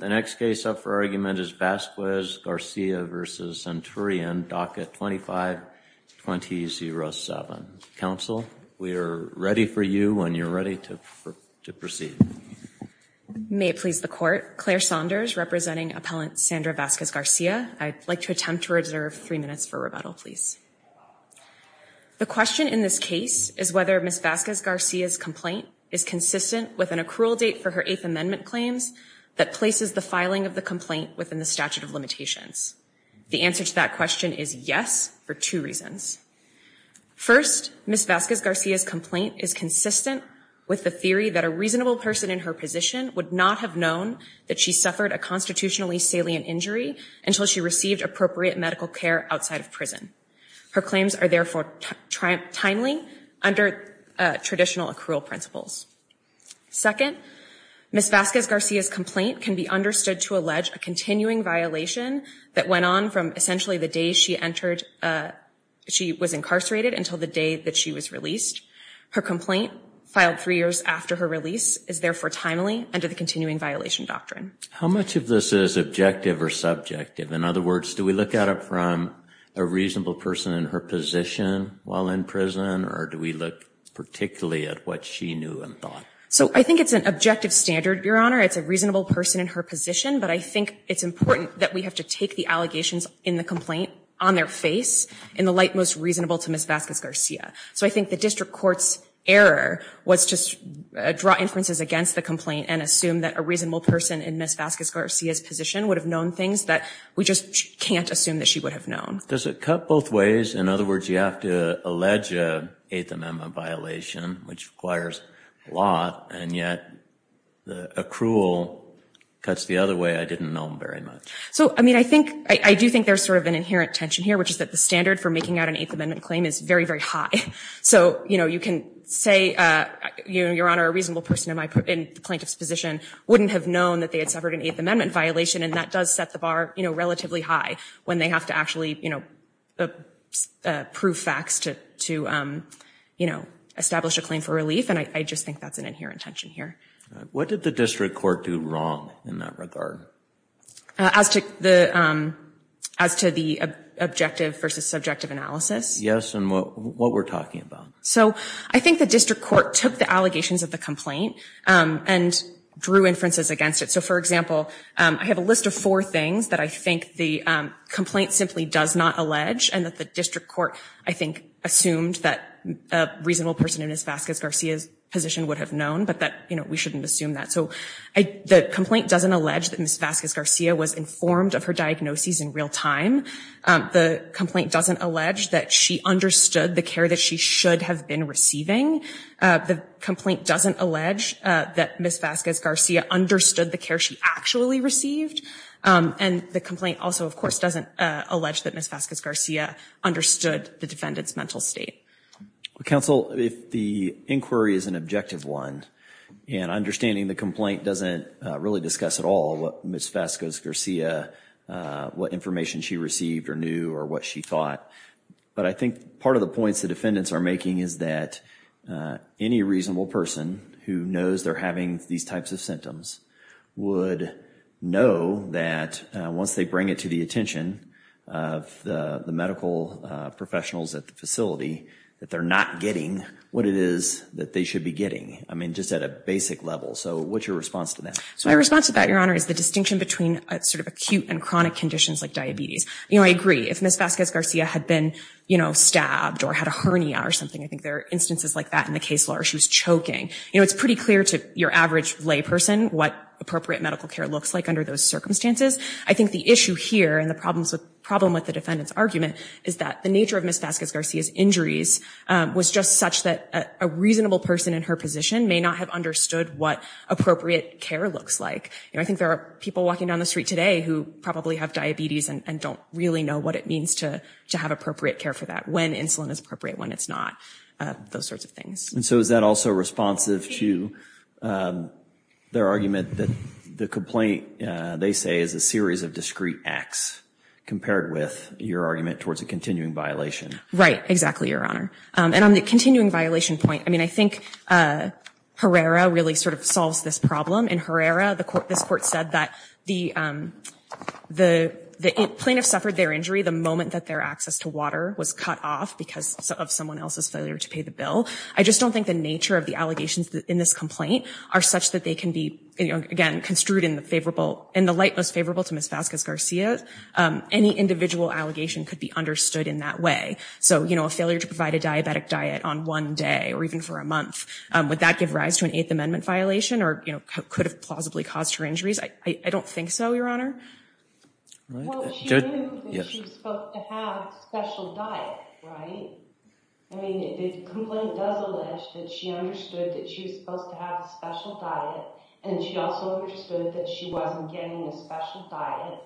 The next case up for argument is Vasquez-Garcia v. Centurion, DACA 25-2007. Counsel, we are ready for you when you're ready to proceed. May it please the Court, Claire Saunders representing Appellant Sandra Vasquez-Garcia. I'd like to attempt to reserve three minutes for rebuttal, please. The question in this case is whether Ms. Vasquez-Garcia's complaint is consistent with an accrual date for her Eighth Amendment claims that places the filing of the complaint within the statute of limitations. The answer to that question is yes, for two reasons. First, Ms. Vasquez-Garcia's complaint is consistent with the theory that a reasonable person in her position would not have known that she suffered a constitutionally salient injury until she received appropriate medical care outside of prison. Her claims are therefore timely under traditional accrual principles. Second, Ms. Vasquez-Garcia's complaint can be understood to allege a continuing violation that went on from essentially the day she entered, she was incarcerated until the day that she was released. Her complaint, filed three years after her release, is therefore timely under the continuing violation doctrine. How much of this is objective or subjective? In other words, do we look at it from a reasonable person in her position while in prison or do we look particularly at what she knew and thought? So I think it's an objective standard, Your Honor. It's a reasonable person in her position, but I think it's important that we have to take the allegations in the complaint on their face in the light most reasonable to Ms. Vasquez-Garcia. So I think the district court's error was just draw inferences against the complaint and assume that a reasonable person in Ms. Vasquez-Garcia's position would have known things that we just can't assume that she would have known. Does it cut both ways? In other words, you have to allege an Eighth Amendment violation, which requires a lot, and yet accrual cuts the other way, I didn't know very much. So I mean, I do think there's sort of an inherent tension here, which is that the standard for making out an Eighth Amendment claim is very, very high. So you can say, Your Honor, a reasonable person in the plaintiff's position wouldn't have known that they had suffered an Eighth Amendment violation, and that does set the bar relatively high when they have to actually, you know, prove facts to, you know, establish a claim for relief. And I just think that's an inherent tension here. What did the district court do wrong in that regard? As to the objective versus subjective analysis? Yes, and what we're talking about. So I think the district court took the allegations of the complaint and drew inferences against it. So for example, I have a list of four things that I think the complaint simply does not allege, and that the district court, I think, assumed that a reasonable person in Ms. Vasquez-Garcia's position would have known, but that, you know, we shouldn't assume that. So the complaint doesn't allege that Ms. Vasquez-Garcia was informed of her diagnoses in real time. The complaint doesn't allege that she understood the care that she should have been receiving. The complaint doesn't allege that Ms. Vasquez-Garcia understood the care she actually received. And the complaint also, of course, doesn't allege that Ms. Vasquez-Garcia understood the defendant's mental state. Counsel, if the inquiry is an objective one, and understanding the complaint doesn't really discuss at all what Ms. Vasquez-Garcia, what information she received or knew or what she thought, but I think part of the points the defendants are making is that any reasonable person who knows they're having these types of symptoms would know that once they bring it to the attention of the medical professionals at the facility, that they're not getting what it is that they should be getting, I mean, just at a basic level. So what's your response to that? So my response to that, Your Honor, is the distinction between sort of acute and chronic conditions like diabetes. You know, I agree. If Ms. Vasquez-Garcia had been, you know, stabbed or had a hernia or something, I think there are instances like that in the case law, or she was choking, you know, it's pretty clear to your average layperson what appropriate medical care looks like under those circumstances. I think the issue here and the problem with the defendant's argument is that the nature of Ms. Vasquez-Garcia's injuries was just such that a reasonable person in her position may not have understood what appropriate care looks like. You know, I think there are people walking down the street today who probably have diabetes and don't really know what it means to have appropriate care for that, when insulin is appropriate, when it's not, those sorts of things. And so is that also responsive to their argument that the complaint, they say, is a series of discrete acts compared with your argument towards a continuing violation? Right, exactly, Your Honor. And on the continuing violation point, I mean, I think Herrera really sort of solves this problem. In Herrera, this court said that the plaintiff suffered their injury the moment that their access to water was cut off because of someone else's failure to pay the bill. I just don't think the nature of the allegations in this complaint are such that they can be, again, construed in the light most favorable to Ms. Vasquez-Garcia. Any individual allegation could be understood in that way. So a failure to provide a diabetic diet on one day, or even for a month, would that give rise to an Eighth Amendment violation, or could have plausibly caused her injuries? I don't think so, Your Honor. Well, she knew that she was supposed to have a special diet, right? I mean, the complaint does allege that she understood that she was supposed to have a special diet, and she also understood that she wasn't getting a special diet.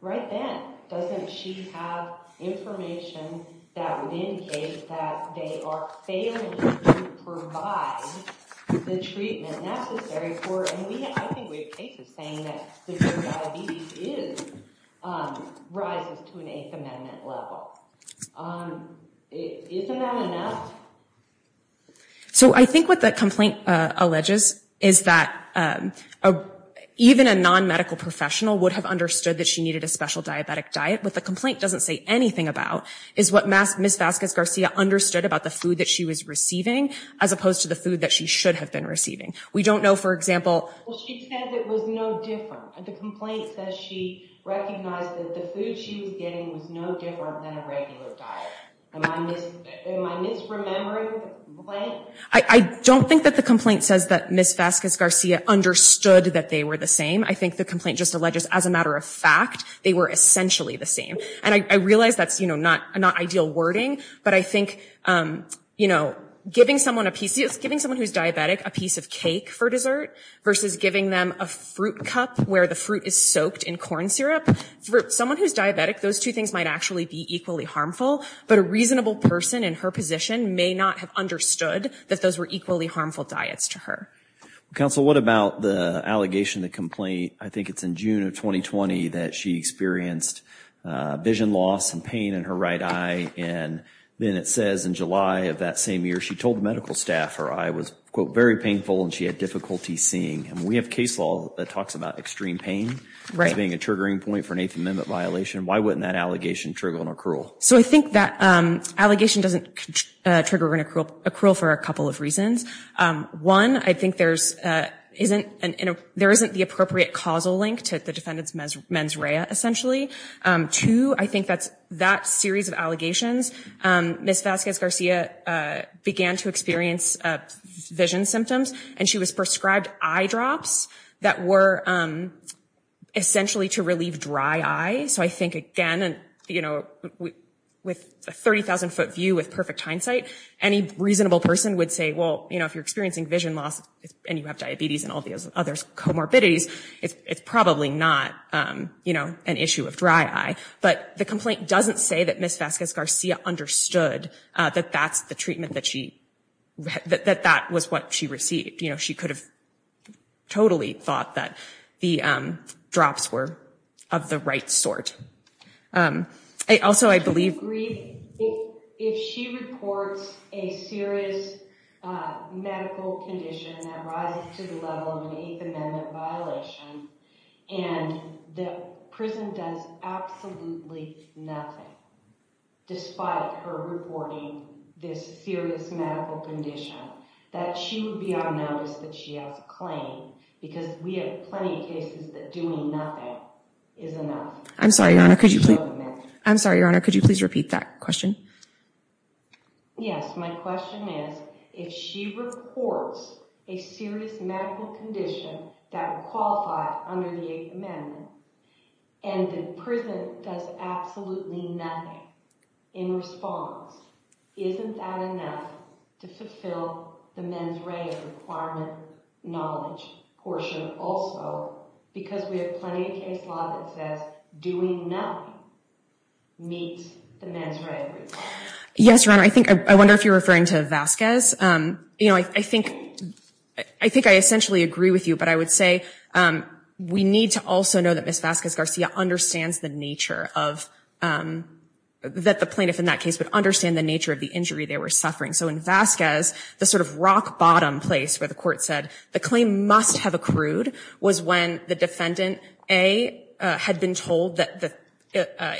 Right then, doesn't she have information that would indicate that they are failing to provide a diabetic diet? So, I think what the complaint alleges is that even a non-medical professional would have understood that she needed a special diabetic diet, but the complaint doesn't say anything about is what Ms. Vasquez-Garcia understood about the food that she was receiving, as opposed to the food that she should have been receiving. We don't know, for example— Well, she said it was no different. The complaint says she recognized that the food she was getting was no different than a regular diet. Am I misremembering the complaint? I don't think that the complaint says that Ms. Vasquez-Garcia understood that they were the same. I think the complaint just alleges, as a matter of fact, they were essentially the same. And I realize that's, you know, not ideal wording, but I think, you know, giving someone a piece—giving someone who's diabetic a piece of cake for dessert versus giving them a fruit cup where the fruit is soaked in corn syrup—for someone who's diabetic, those two things might actually be equally harmful, but a reasonable person in her position may not have understood that those were equally harmful diets to her. Counsel, what about the allegation, the complaint—I think it's in June of 2020 that she experienced vision loss and pain in her right eye, and then it says in July of that same year she told medical staff her eye was, quote, very painful and she had difficulty seeing. We have case law that talks about extreme pain as being a triggering point for an Eighth Amendment violation. Why wouldn't that allegation trigger an accrual? So I think that allegation doesn't trigger an accrual for a couple of reasons. One, I think there isn't the appropriate causal link to the defendant's mens rea, essentially. Two, I think that series of allegations—Ms. Vazquez-Garcia began to experience vision symptoms and she was prescribed eye drops that were essentially to relieve dry eyes. So I think, again, you know, with a 30,000-foot view with perfect hindsight, any reasonable person would say, well, you know, if you're experiencing vision loss and you have diabetes and all the other comorbidities, it's probably not, you know, an issue of dry eye. But the complaint doesn't say that Ms. Vazquez-Garcia understood that that's the treatment that she—that that was what she received. You know, she could have totally thought that the drops were of the right sort. Also, I believe— If she reports a serious medical condition that rises to the level of an Eighth Amendment violation and the prison does absolutely nothing despite her reporting this serious medical condition, that she would be on notice that she has a claim because we have plenty of cases that doing nothing is enough. I'm sorry, Your Honor, could you please repeat that question? Yes, my question is, if she reports a serious medical condition that would qualify under the Eighth Amendment and the prison does absolutely nothing in response, isn't that enough to fulfill the mens rea requirement knowledge portion also because we have plenty of case that says doing nothing meets the mens re requirement? Yes, Your Honor, I think—I wonder if you're referring to Vazquez. You know, I think—I think I essentially agree with you, but I would say we need to also know that Ms. Vazquez-Garcia understands the nature of—that the plaintiff in that case would understand the nature of the injury they were suffering. So in Vazquez, the sort of rock-bottom place where the court said the claim must have accrued was when the defendant, A, had been told that the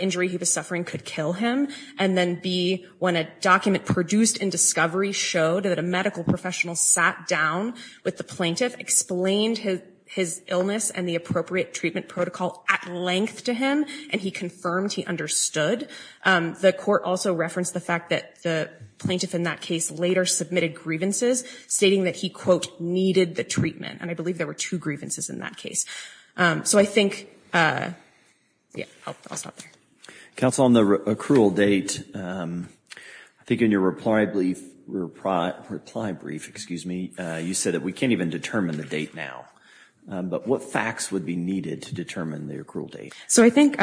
injury he was suffering could kill him, and then, B, when a document produced in discovery showed that a medical professional sat down with the plaintiff, explained his illness and the appropriate treatment protocol at length to him, and he confirmed he understood. The court also referenced the fact that the plaintiff in that case later submitted grievances stating that he, quote, needed the treatment, and I believe there were two grievances in that case. So I think—yeah, I'll stop there. Counsel, on the accrual date, I think in your reply brief, you said that we can't even determine the date now. But what facts would be needed to determine the accrual date? So I think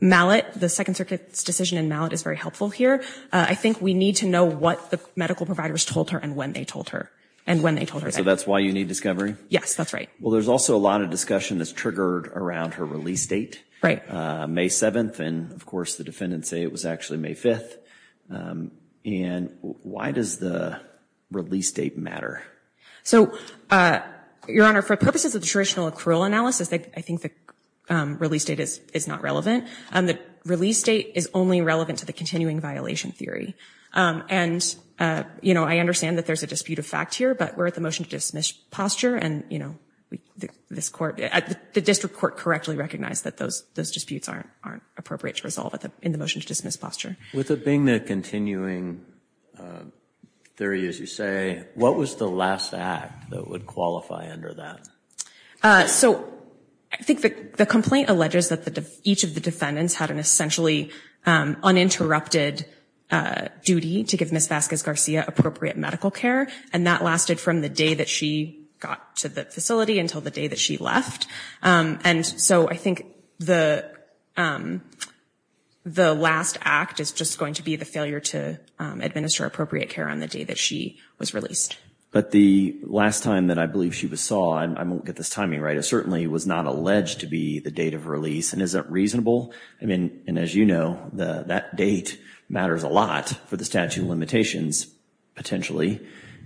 Mallett, the Second Circuit's decision in Mallett is very helpful here. I think we need to know what the medical providers told her and when they told her, and when they told her that. So that's why you need discovery? Yes, that's right. Well, there's also a lot of discussion that's triggered around her release date. Right. May 7th, and, of course, the defendants say it was actually May 5th. And why does the release date matter? So, Your Honor, for purposes of the traditional accrual analysis, I think the release date is not relevant. The release date is only relevant to the continuing violation theory. And, you know, I understand that there's a dispute of fact here, but we're at the motion to dismiss posture, and, you know, the district court correctly recognized that those disputes aren't appropriate to resolve in the motion to dismiss posture. With it being the continuing theory, as you say, what was the last act that would qualify under that? So I think the complaint alleges that each of the defendants had an essentially uninterrupted duty to give Ms. Vasquez-Garcia appropriate medical care, and that lasted from the day that she got to the facility until the day that she left. And so I think the last act is just going to be the failure to administer appropriate care on the day that she was released. But the last time that I believe she was saw, and I won't get this timing right, it certainly was not alleged to be the date of release. And is that reasonable? I mean, and as you know, that date matters a lot for the statute of limitations, potentially.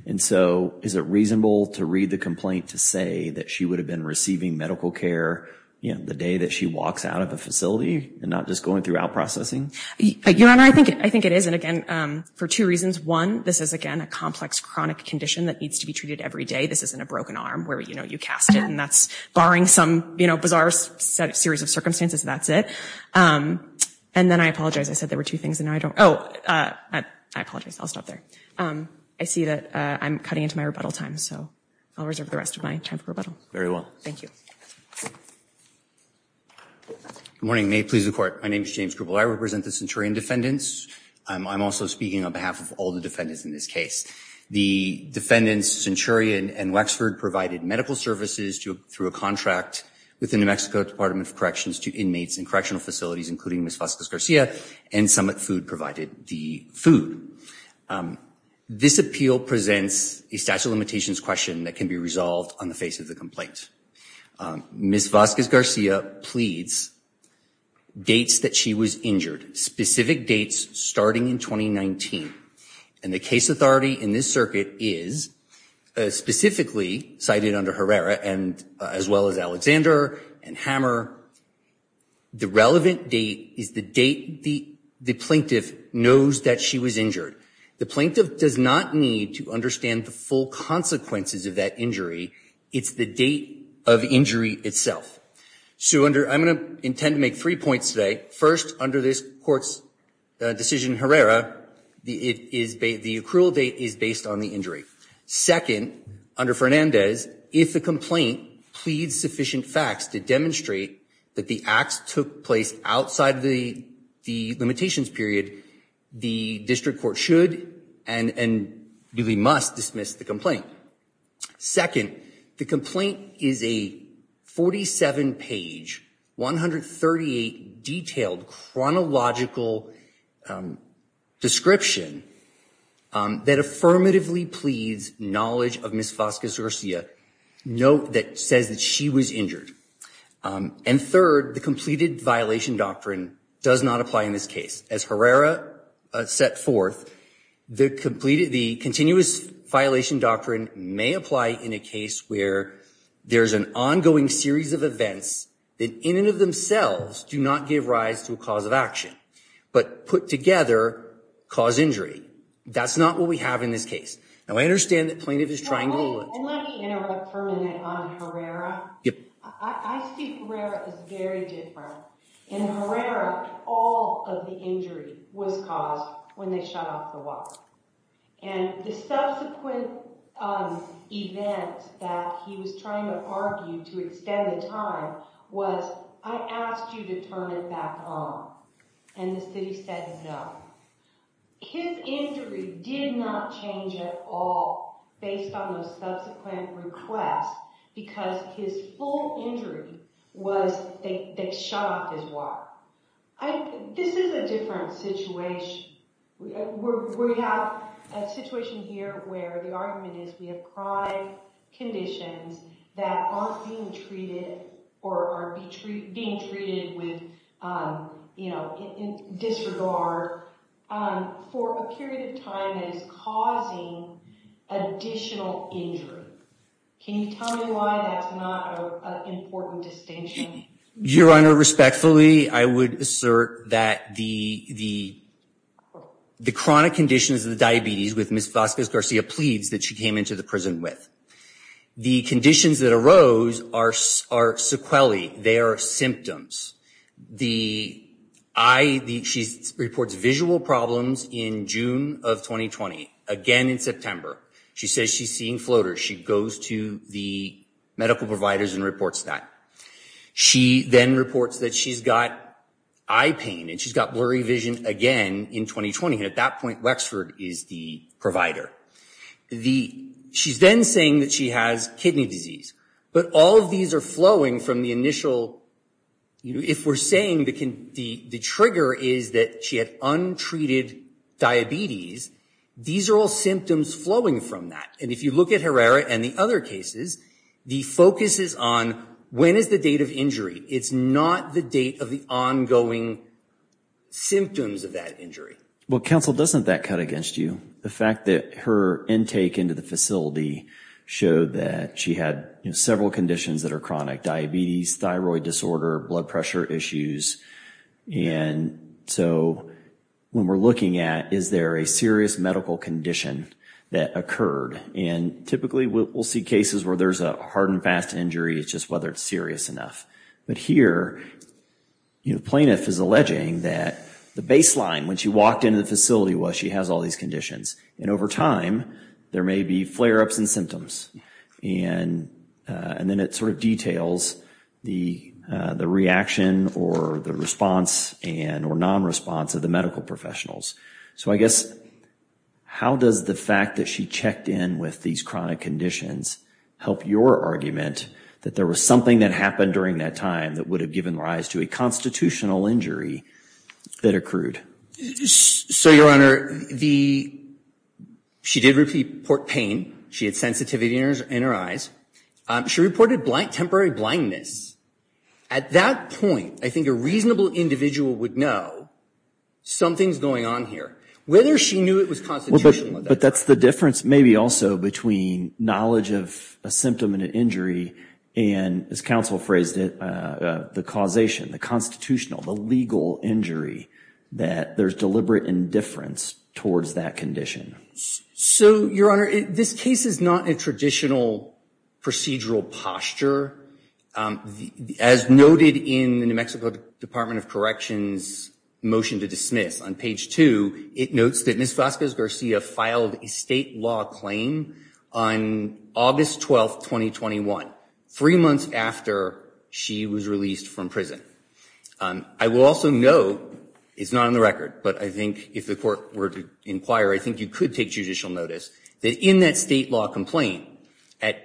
And so is it reasonable to read the complaint to say that she would have been receiving medical care, you know, the day that she walks out of the facility and not just going through out-processing? Your Honor, I think it is. And again, for two reasons. One, this is, again, a complex chronic condition that needs to be treated every day. This isn't a broken arm where, you know, you cast it, and that's barring some, you know, bizarre series of circumstances. That's it. And then I apologize. I said there were two things, and now I don't. Oh, I apologize. I'll stop there. I see that I'm cutting into my rebuttal time, so I'll reserve the rest of my time for rebuttal. Very well. Thank you. Good morning. May it please the Court. My name is James Gruble. I represent the centurion defendants. I'm also speaking on behalf of all the defendants in this case. The defendants, centurion and Wexford, provided medical services through a contract with the New Mexico Department of Corrections to inmates in correctional facilities, including Ms. Vasquez-Garcia, and Summit Food provided the food. This appeal presents a statute of limitations question that can be resolved on the face of the complaint. Ms. Vasquez-Garcia pleads dates that she was injured, specific dates starting in 2019. And the case authority in this circuit is specifically cited under Herrera, as well as Alexander and Hammer. The relevant date is the date the plaintiff knows that she was injured. The plaintiff does not need to understand the full consequences of that injury. It's the date of injury itself. So I'm going to intend to make three points today. First, under this Court's decision in Herrera, the accrual date is based on the injury. Second, under Fernandez, if the complaint pleads sufficient facts to demonstrate that the acts took place outside of the limitations period, the district court should and really must dismiss the complaint. Second, the complaint is a 47-page, 138-detailed chronological description that affirmatively pleads knowledge of Ms. Vasquez-Garcia, note that says that she was injured. And third, the completed violation doctrine does not apply in this case. As Herrera set forth, the continuous violation doctrine may apply in a case where there's an ongoing series of events that in and of themselves do not give rise to a cause of action, but put together cause injury. That's not what we have in this case. Now, I understand that plaintiff is trying to look... And let me interrupt for a minute on Herrera. I see Herrera as very different. In Herrera, all of the injury was caused when they shut off the water. And the subsequent event that he was trying to argue to extend the time was, I asked you to turn it back on, and the city said no. His injury did not change at all based on those subsequent requests, because his full injury was they shut off his water. This is a different situation. We have a situation here where the argument is we have prior conditions that aren't being treated, or are being treated with, you know, in disregard. For a period of time that is causing additional injury. Can you tell me why that's not an important distinction? Your Honor, respectfully, I would assert that the chronic conditions of the diabetes with Ms. Vasquez-Garcia pleads that she came into the prison with. The conditions that arose are sequelae. They are symptoms. The eye, she reports visual problems in June of 2020. Again in September. She says she's seeing floaters. She goes to the medical providers and reports that. She then reports that she's got eye pain, and she's got blurry vision again in 2020. And at that point, Wexford is the provider. She's then saying that she has kidney disease. But all of these are flowing from the initial, if we're saying the trigger is that she had untreated diabetes, these are all symptoms flowing from that. And if you look at Herrera and the other cases, the focus is on when is the date of injury. It's not the date of the ongoing symptoms of that injury. Well, counsel, doesn't that cut against you? The fact that her intake into the facility showed that she had several conditions that are chronic. Diabetes, thyroid disorder, blood pressure issues. And so when we're looking at, is there a serious medical condition that occurred? And typically we'll see cases where there's a hard and fast injury. It's just whether it's serious enough. But here, the plaintiff is alleging that the baseline when she walked into the facility was she has all these conditions. And over time, there may be flare-ups and symptoms. And then it sort of details the reaction or the response and or non-response of the medical professionals. So I guess, how does the fact that she checked in with these chronic conditions help your argument that there was something that happened during that time? That would have given rise to a constitutional injury that accrued? So, Your Honor, she did report pain. She had sensitivity in her eyes. She reported temporary blindness. At that point, I think a reasonable individual would know something's going on here. Whether she knew it was constitutional or not. But that's the difference maybe also between knowledge of a symptom and an injury. And as counsel phrased it, the causation, the constitutional, the legal injury, that there's deliberate indifference towards that condition. So, Your Honor, this case is not a traditional procedural posture. As noted in the New Mexico Department of Corrections motion to dismiss on page 2, it notes that Ms. Vasquez-Garcia filed a state law claim on August 12, 2021, three months after she was released from prison. I will also note, it's not on the record, but I think if the court were to inquire, I think you could take judicial notice, that in that state law complaint, at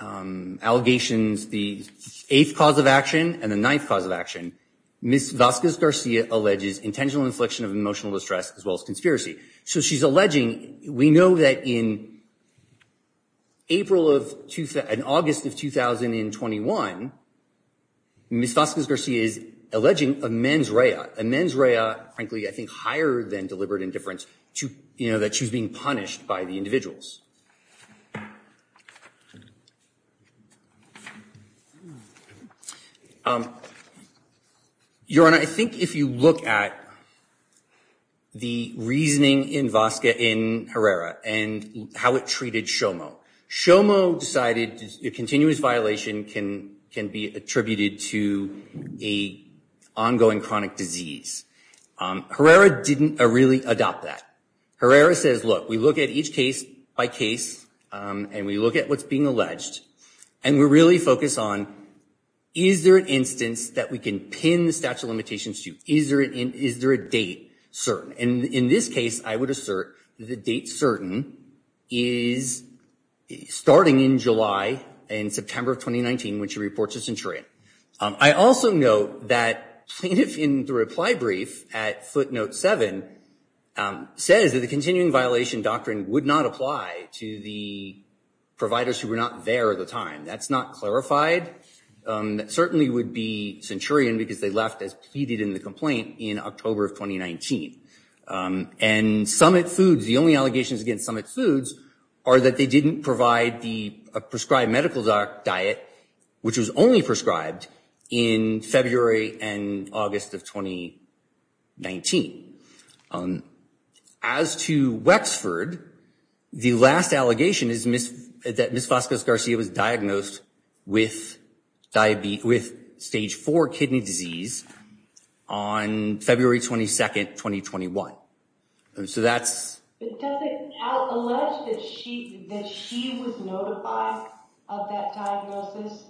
allegations, the eighth cause of action and the ninth cause of action, Ms. Vasquez-Garcia alleges intentional infliction of emotional distress as well as conspiracy. So she's alleging, we know that in April of, in August of 2021, Ms. Vasquez-Garcia is alleging a mens rea, a mens rea, frankly, I think higher than deliberate indifference, that she was being punished by the individuals. Your Honor, I think if you look at the reasoning in Vasquez, in Herrera, and how it treated Shomo, Shomo decided a continuous violation can be attributed to a ongoing chronic disease. Herrera didn't really adopt that. Herrera says, look, we look at each case by case, and we look at what's being alleged, and we really focus on, is there an instance that we can pin the statute of limitations to? Is there a date certain? And in this case, I would assert that the date certain is starting in July and September of 2019, which reports a centurion. I also note that plaintiff in the reply brief at footnote seven says that the continuing violation doctrine would not apply to the entire of the time. That's not clarified. That certainly would be centurion because they left as pleaded in the complaint in October of 2019. And Summit Foods, the only allegations against Summit Foods are that they didn't provide the prescribed medical diet, which was only prescribed in February and August of 2019. As to Wexford, the last allegation is that Ms. Vazquez-Garcia was diagnosed with stage four kidney disease on February 22nd, 2021. So that's... Does it allege that she was notified of that diagnosis?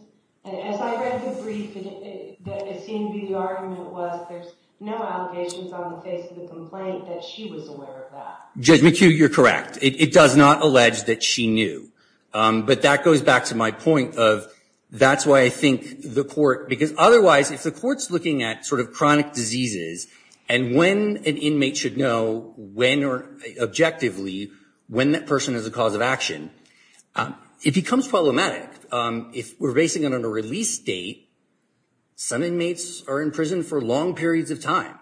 As I read the brief, it seemed to be the argument was there's no allegation found in the face of the complaint that she was aware of that. Judge McHugh, you're correct. It does not allege that she knew. But that goes back to my point of that's why I think the court... Because otherwise, if the court's looking at sort of chronic diseases and when an inmate should know when or objectively when that person is a cause of action, it becomes problematic. If we're basing it on a release date, some inmates are in prison for long periods of time.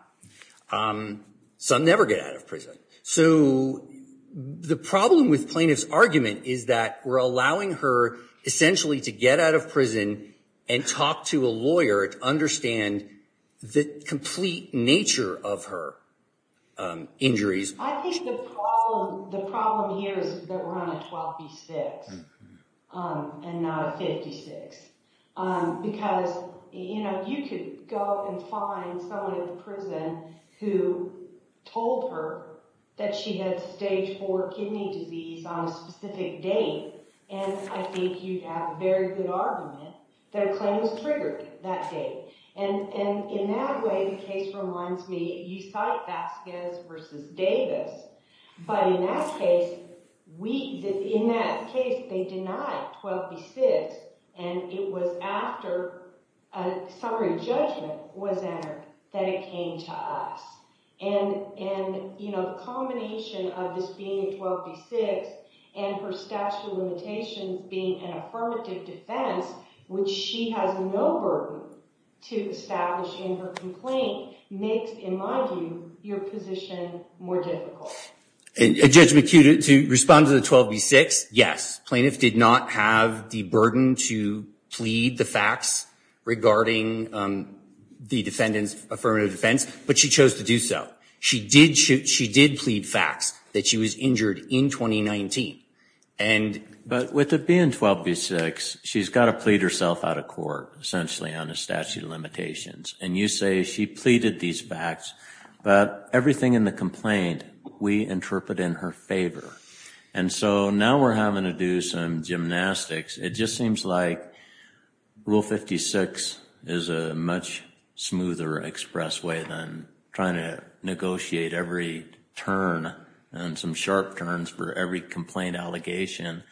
Some never get out of prison. So the problem with plaintiff's argument is that we're allowing her essentially to get out of prison and talk to a lawyer to understand the complete nature of her injuries. I think the problem here is that we're on a 12B6 and not a 56. Because, you know, you could go and find someone in the prison who told her that she had stage 4 kidney disease on a specific date. And I think you'd have a very good argument that a claim was triggered that day. And in that way, the case reminds me, you cite Vasquez versus Davis. But in that case, we... We had 12B6 and it was after a summary judgment was entered that it came to us. And the combination of this being a 12B6 and her statute of limitations being an affirmative defense, which she has no burden to establish in her complaint, makes, in my view, your position more difficult. Judge McHugh, to respond to the 12B6, yes, plaintiff did not have the burden to plead the facts regarding the defendant's affirmative defense, but she chose to do so. She did plead facts that she was injured in 2019. But with it being 12B6, she's got to plead herself out of court, essentially on a statute of limitations. And you say she pleaded these facts, but everything in the complaint, we interpret in her favor. And so now we're having to do some gymnastics. It just seems like Rule 56 is a much smoother express way than trying to negotiate every turn and some sharp turns for every complaint allegation,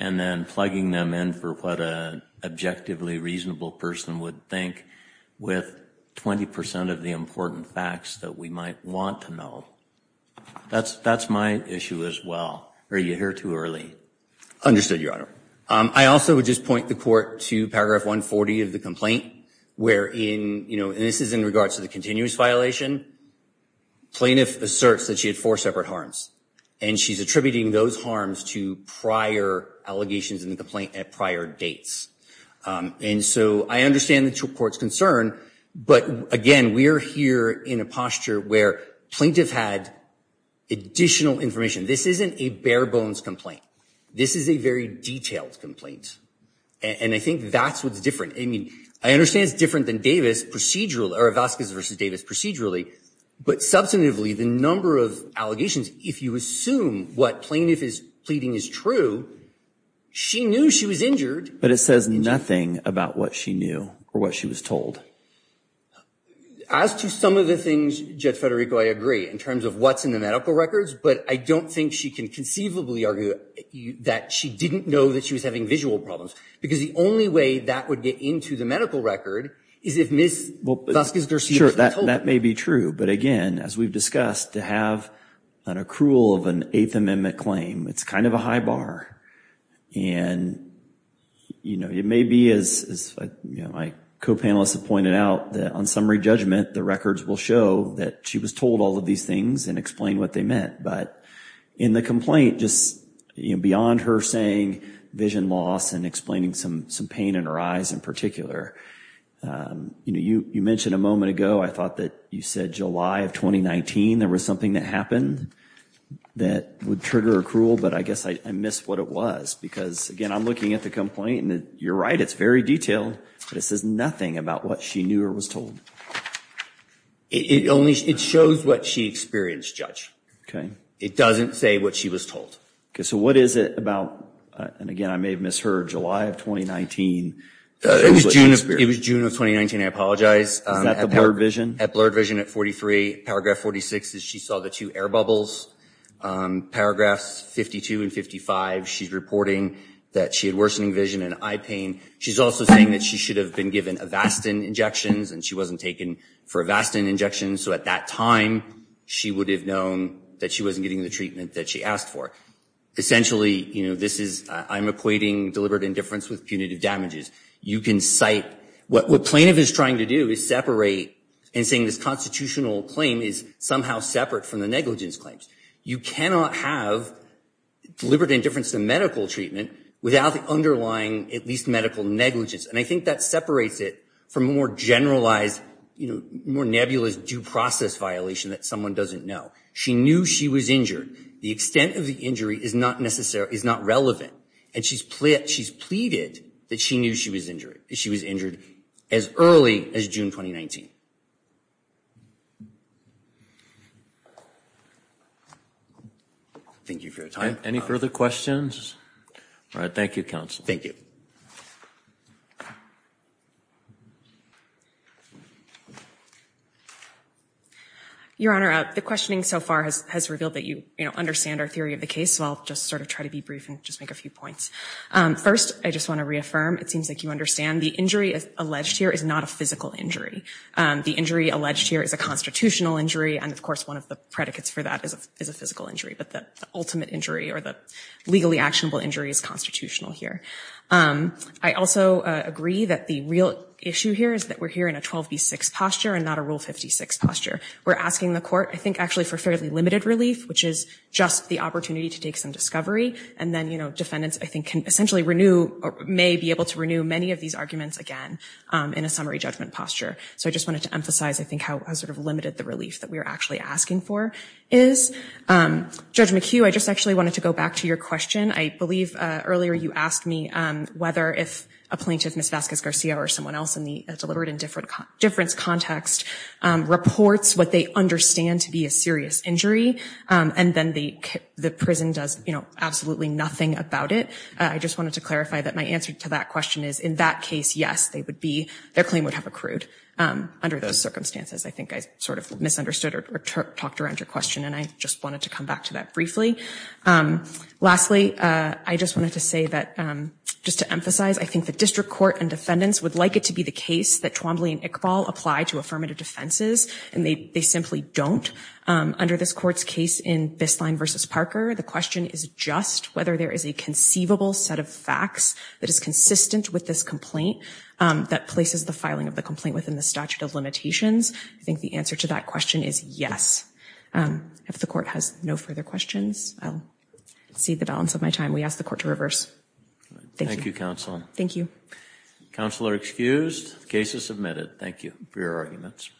and then plugging them in for what an objectively reasonable person would think with the fact that they're 20 percent of the important facts that we might want to know. That's my issue as well. Are you here too early? Understood, Your Honor. I also would just point the court to paragraph 140 of the complaint, where in, you know, and this is in regards to the continuous violation, plaintiff asserts that she had four separate harms. And she's attributing those harms to prior allegations in the complaint at prior dates. And so I understand the court's concern. But again, we are here in a posture where plaintiff had additional information. This isn't a bare bones complaint. This is a very detailed complaint. And I think that's what's different. I mean, I understand it's different than Davis procedurally, or Vazquez versus Davis procedurally. But substantively, the number of allegations, if you assume what plaintiff is pleading is true, she knew she was injured. But it says nothing about what she knew or what she was told. As to some of the things, Judge Federico, I agree in terms of what's in the medical records. But I don't think she can conceivably argue that she didn't know that she was having visual problems. Because the only way that would get into the medical record is if Ms. Vazquez-Garcia was told. Sure, that may be true. But again, as we've discussed, to have an accrual of an Eighth Amendment claim, it's kind of a high bar. And, you know, it may be, as my co-panelists have pointed out, that on summary judgment, the records will show that she was told all of these things and explain what they meant. But in the complaint, just beyond her saying vision loss and explaining some pain in her eyes in particular, you mentioned a moment ago, I thought that you said July of 2019, there was something that happened that would trigger accrual. But I guess I missed what it was. Because, again, I'm looking at the complaint, and you're right, it's very detailed. But it says nothing about what she knew or was told. It shows what she experienced, Judge. It doesn't say what she was told. So what is it about, and again, I may have misheard, July of 2019? It was June of 2019, I apologize. Is that the blurred vision? At blurred vision at 43. Paragraph 46 is she saw the two air bubbles. Paragraphs 52 and 55, she's reporting that she had worsening vision and eye pain. She's also saying that she should have been given Avastin injections, and she wasn't taken for Avastin injections. So at that time, she would have known that she wasn't getting the treatment that she asked for. Essentially, this is, I'm equating deliberate indifference with punitive damages. You can cite, what plaintiff is trying to do is separate, and saying this constitutional claim is somehow separate from the negligence claims. You cannot have deliberate indifference to medical treatment without the underlying, at least medical negligence. And I think that separates it from a more generalized, more nebulous due process violation that someone doesn't know. She knew she was injured. The extent of the injury is not relevant. And she's pleaded that she knew she was injured as early as June 2019. Thank you for your time. Any further questions? Your Honor, the questioning so far has revealed that you understand our theory of the case, so I'll just sort of try to be brief and just make a few points. First, I just want to reaffirm, it seems like you understand the injury alleged here is not a physical injury. The injury alleged here is a constitutional injury, and of course one of the predicates for that is a physical injury. But the ultimate injury, or the legally actionable injury, is constitutional here. I also agree that the real issue here is that we're here in a 12B6 posture and not a Rule 56 posture. We're asking the court, I think actually for fairly limited relief, which is just the opportunity to take some discovery. And then defendants, I think, can essentially renew, may be able to renew many of these arguments again in a summary judgment posture. So I just wanted to emphasize, I think, how sort of limited the relief that we're actually asking for is. Judge McHugh, I just actually wanted to go back to your question. I believe earlier you asked me whether if a plaintiff, Ms. Vasquez-Garcia or someone else in the deliberate indifference context, reports what they understand to be a serious injury, and then the prison does absolutely nothing about it. I just wanted to clarify that my answer to that question is, in that case, yes, their claim would have accrued under those circumstances. I think I sort of misunderstood or talked around your question, and I just wanted to come back to that briefly. Lastly, I just wanted to say that, just to emphasize, I think the district court and defendants would like it to be the case that Twombly and Iqbal apply to affirmative defenses, and they simply don't. Under this court's case in Bisline v. Parker, the question is just whether there is a conceivable set of facts that is consistent with this complaint that places the filing of the complaint within the statute of limitations. I think the answer to that question is yes. If the court has no further questions, I'll cede the balance of my time. We ask the court to reverse. Thank you.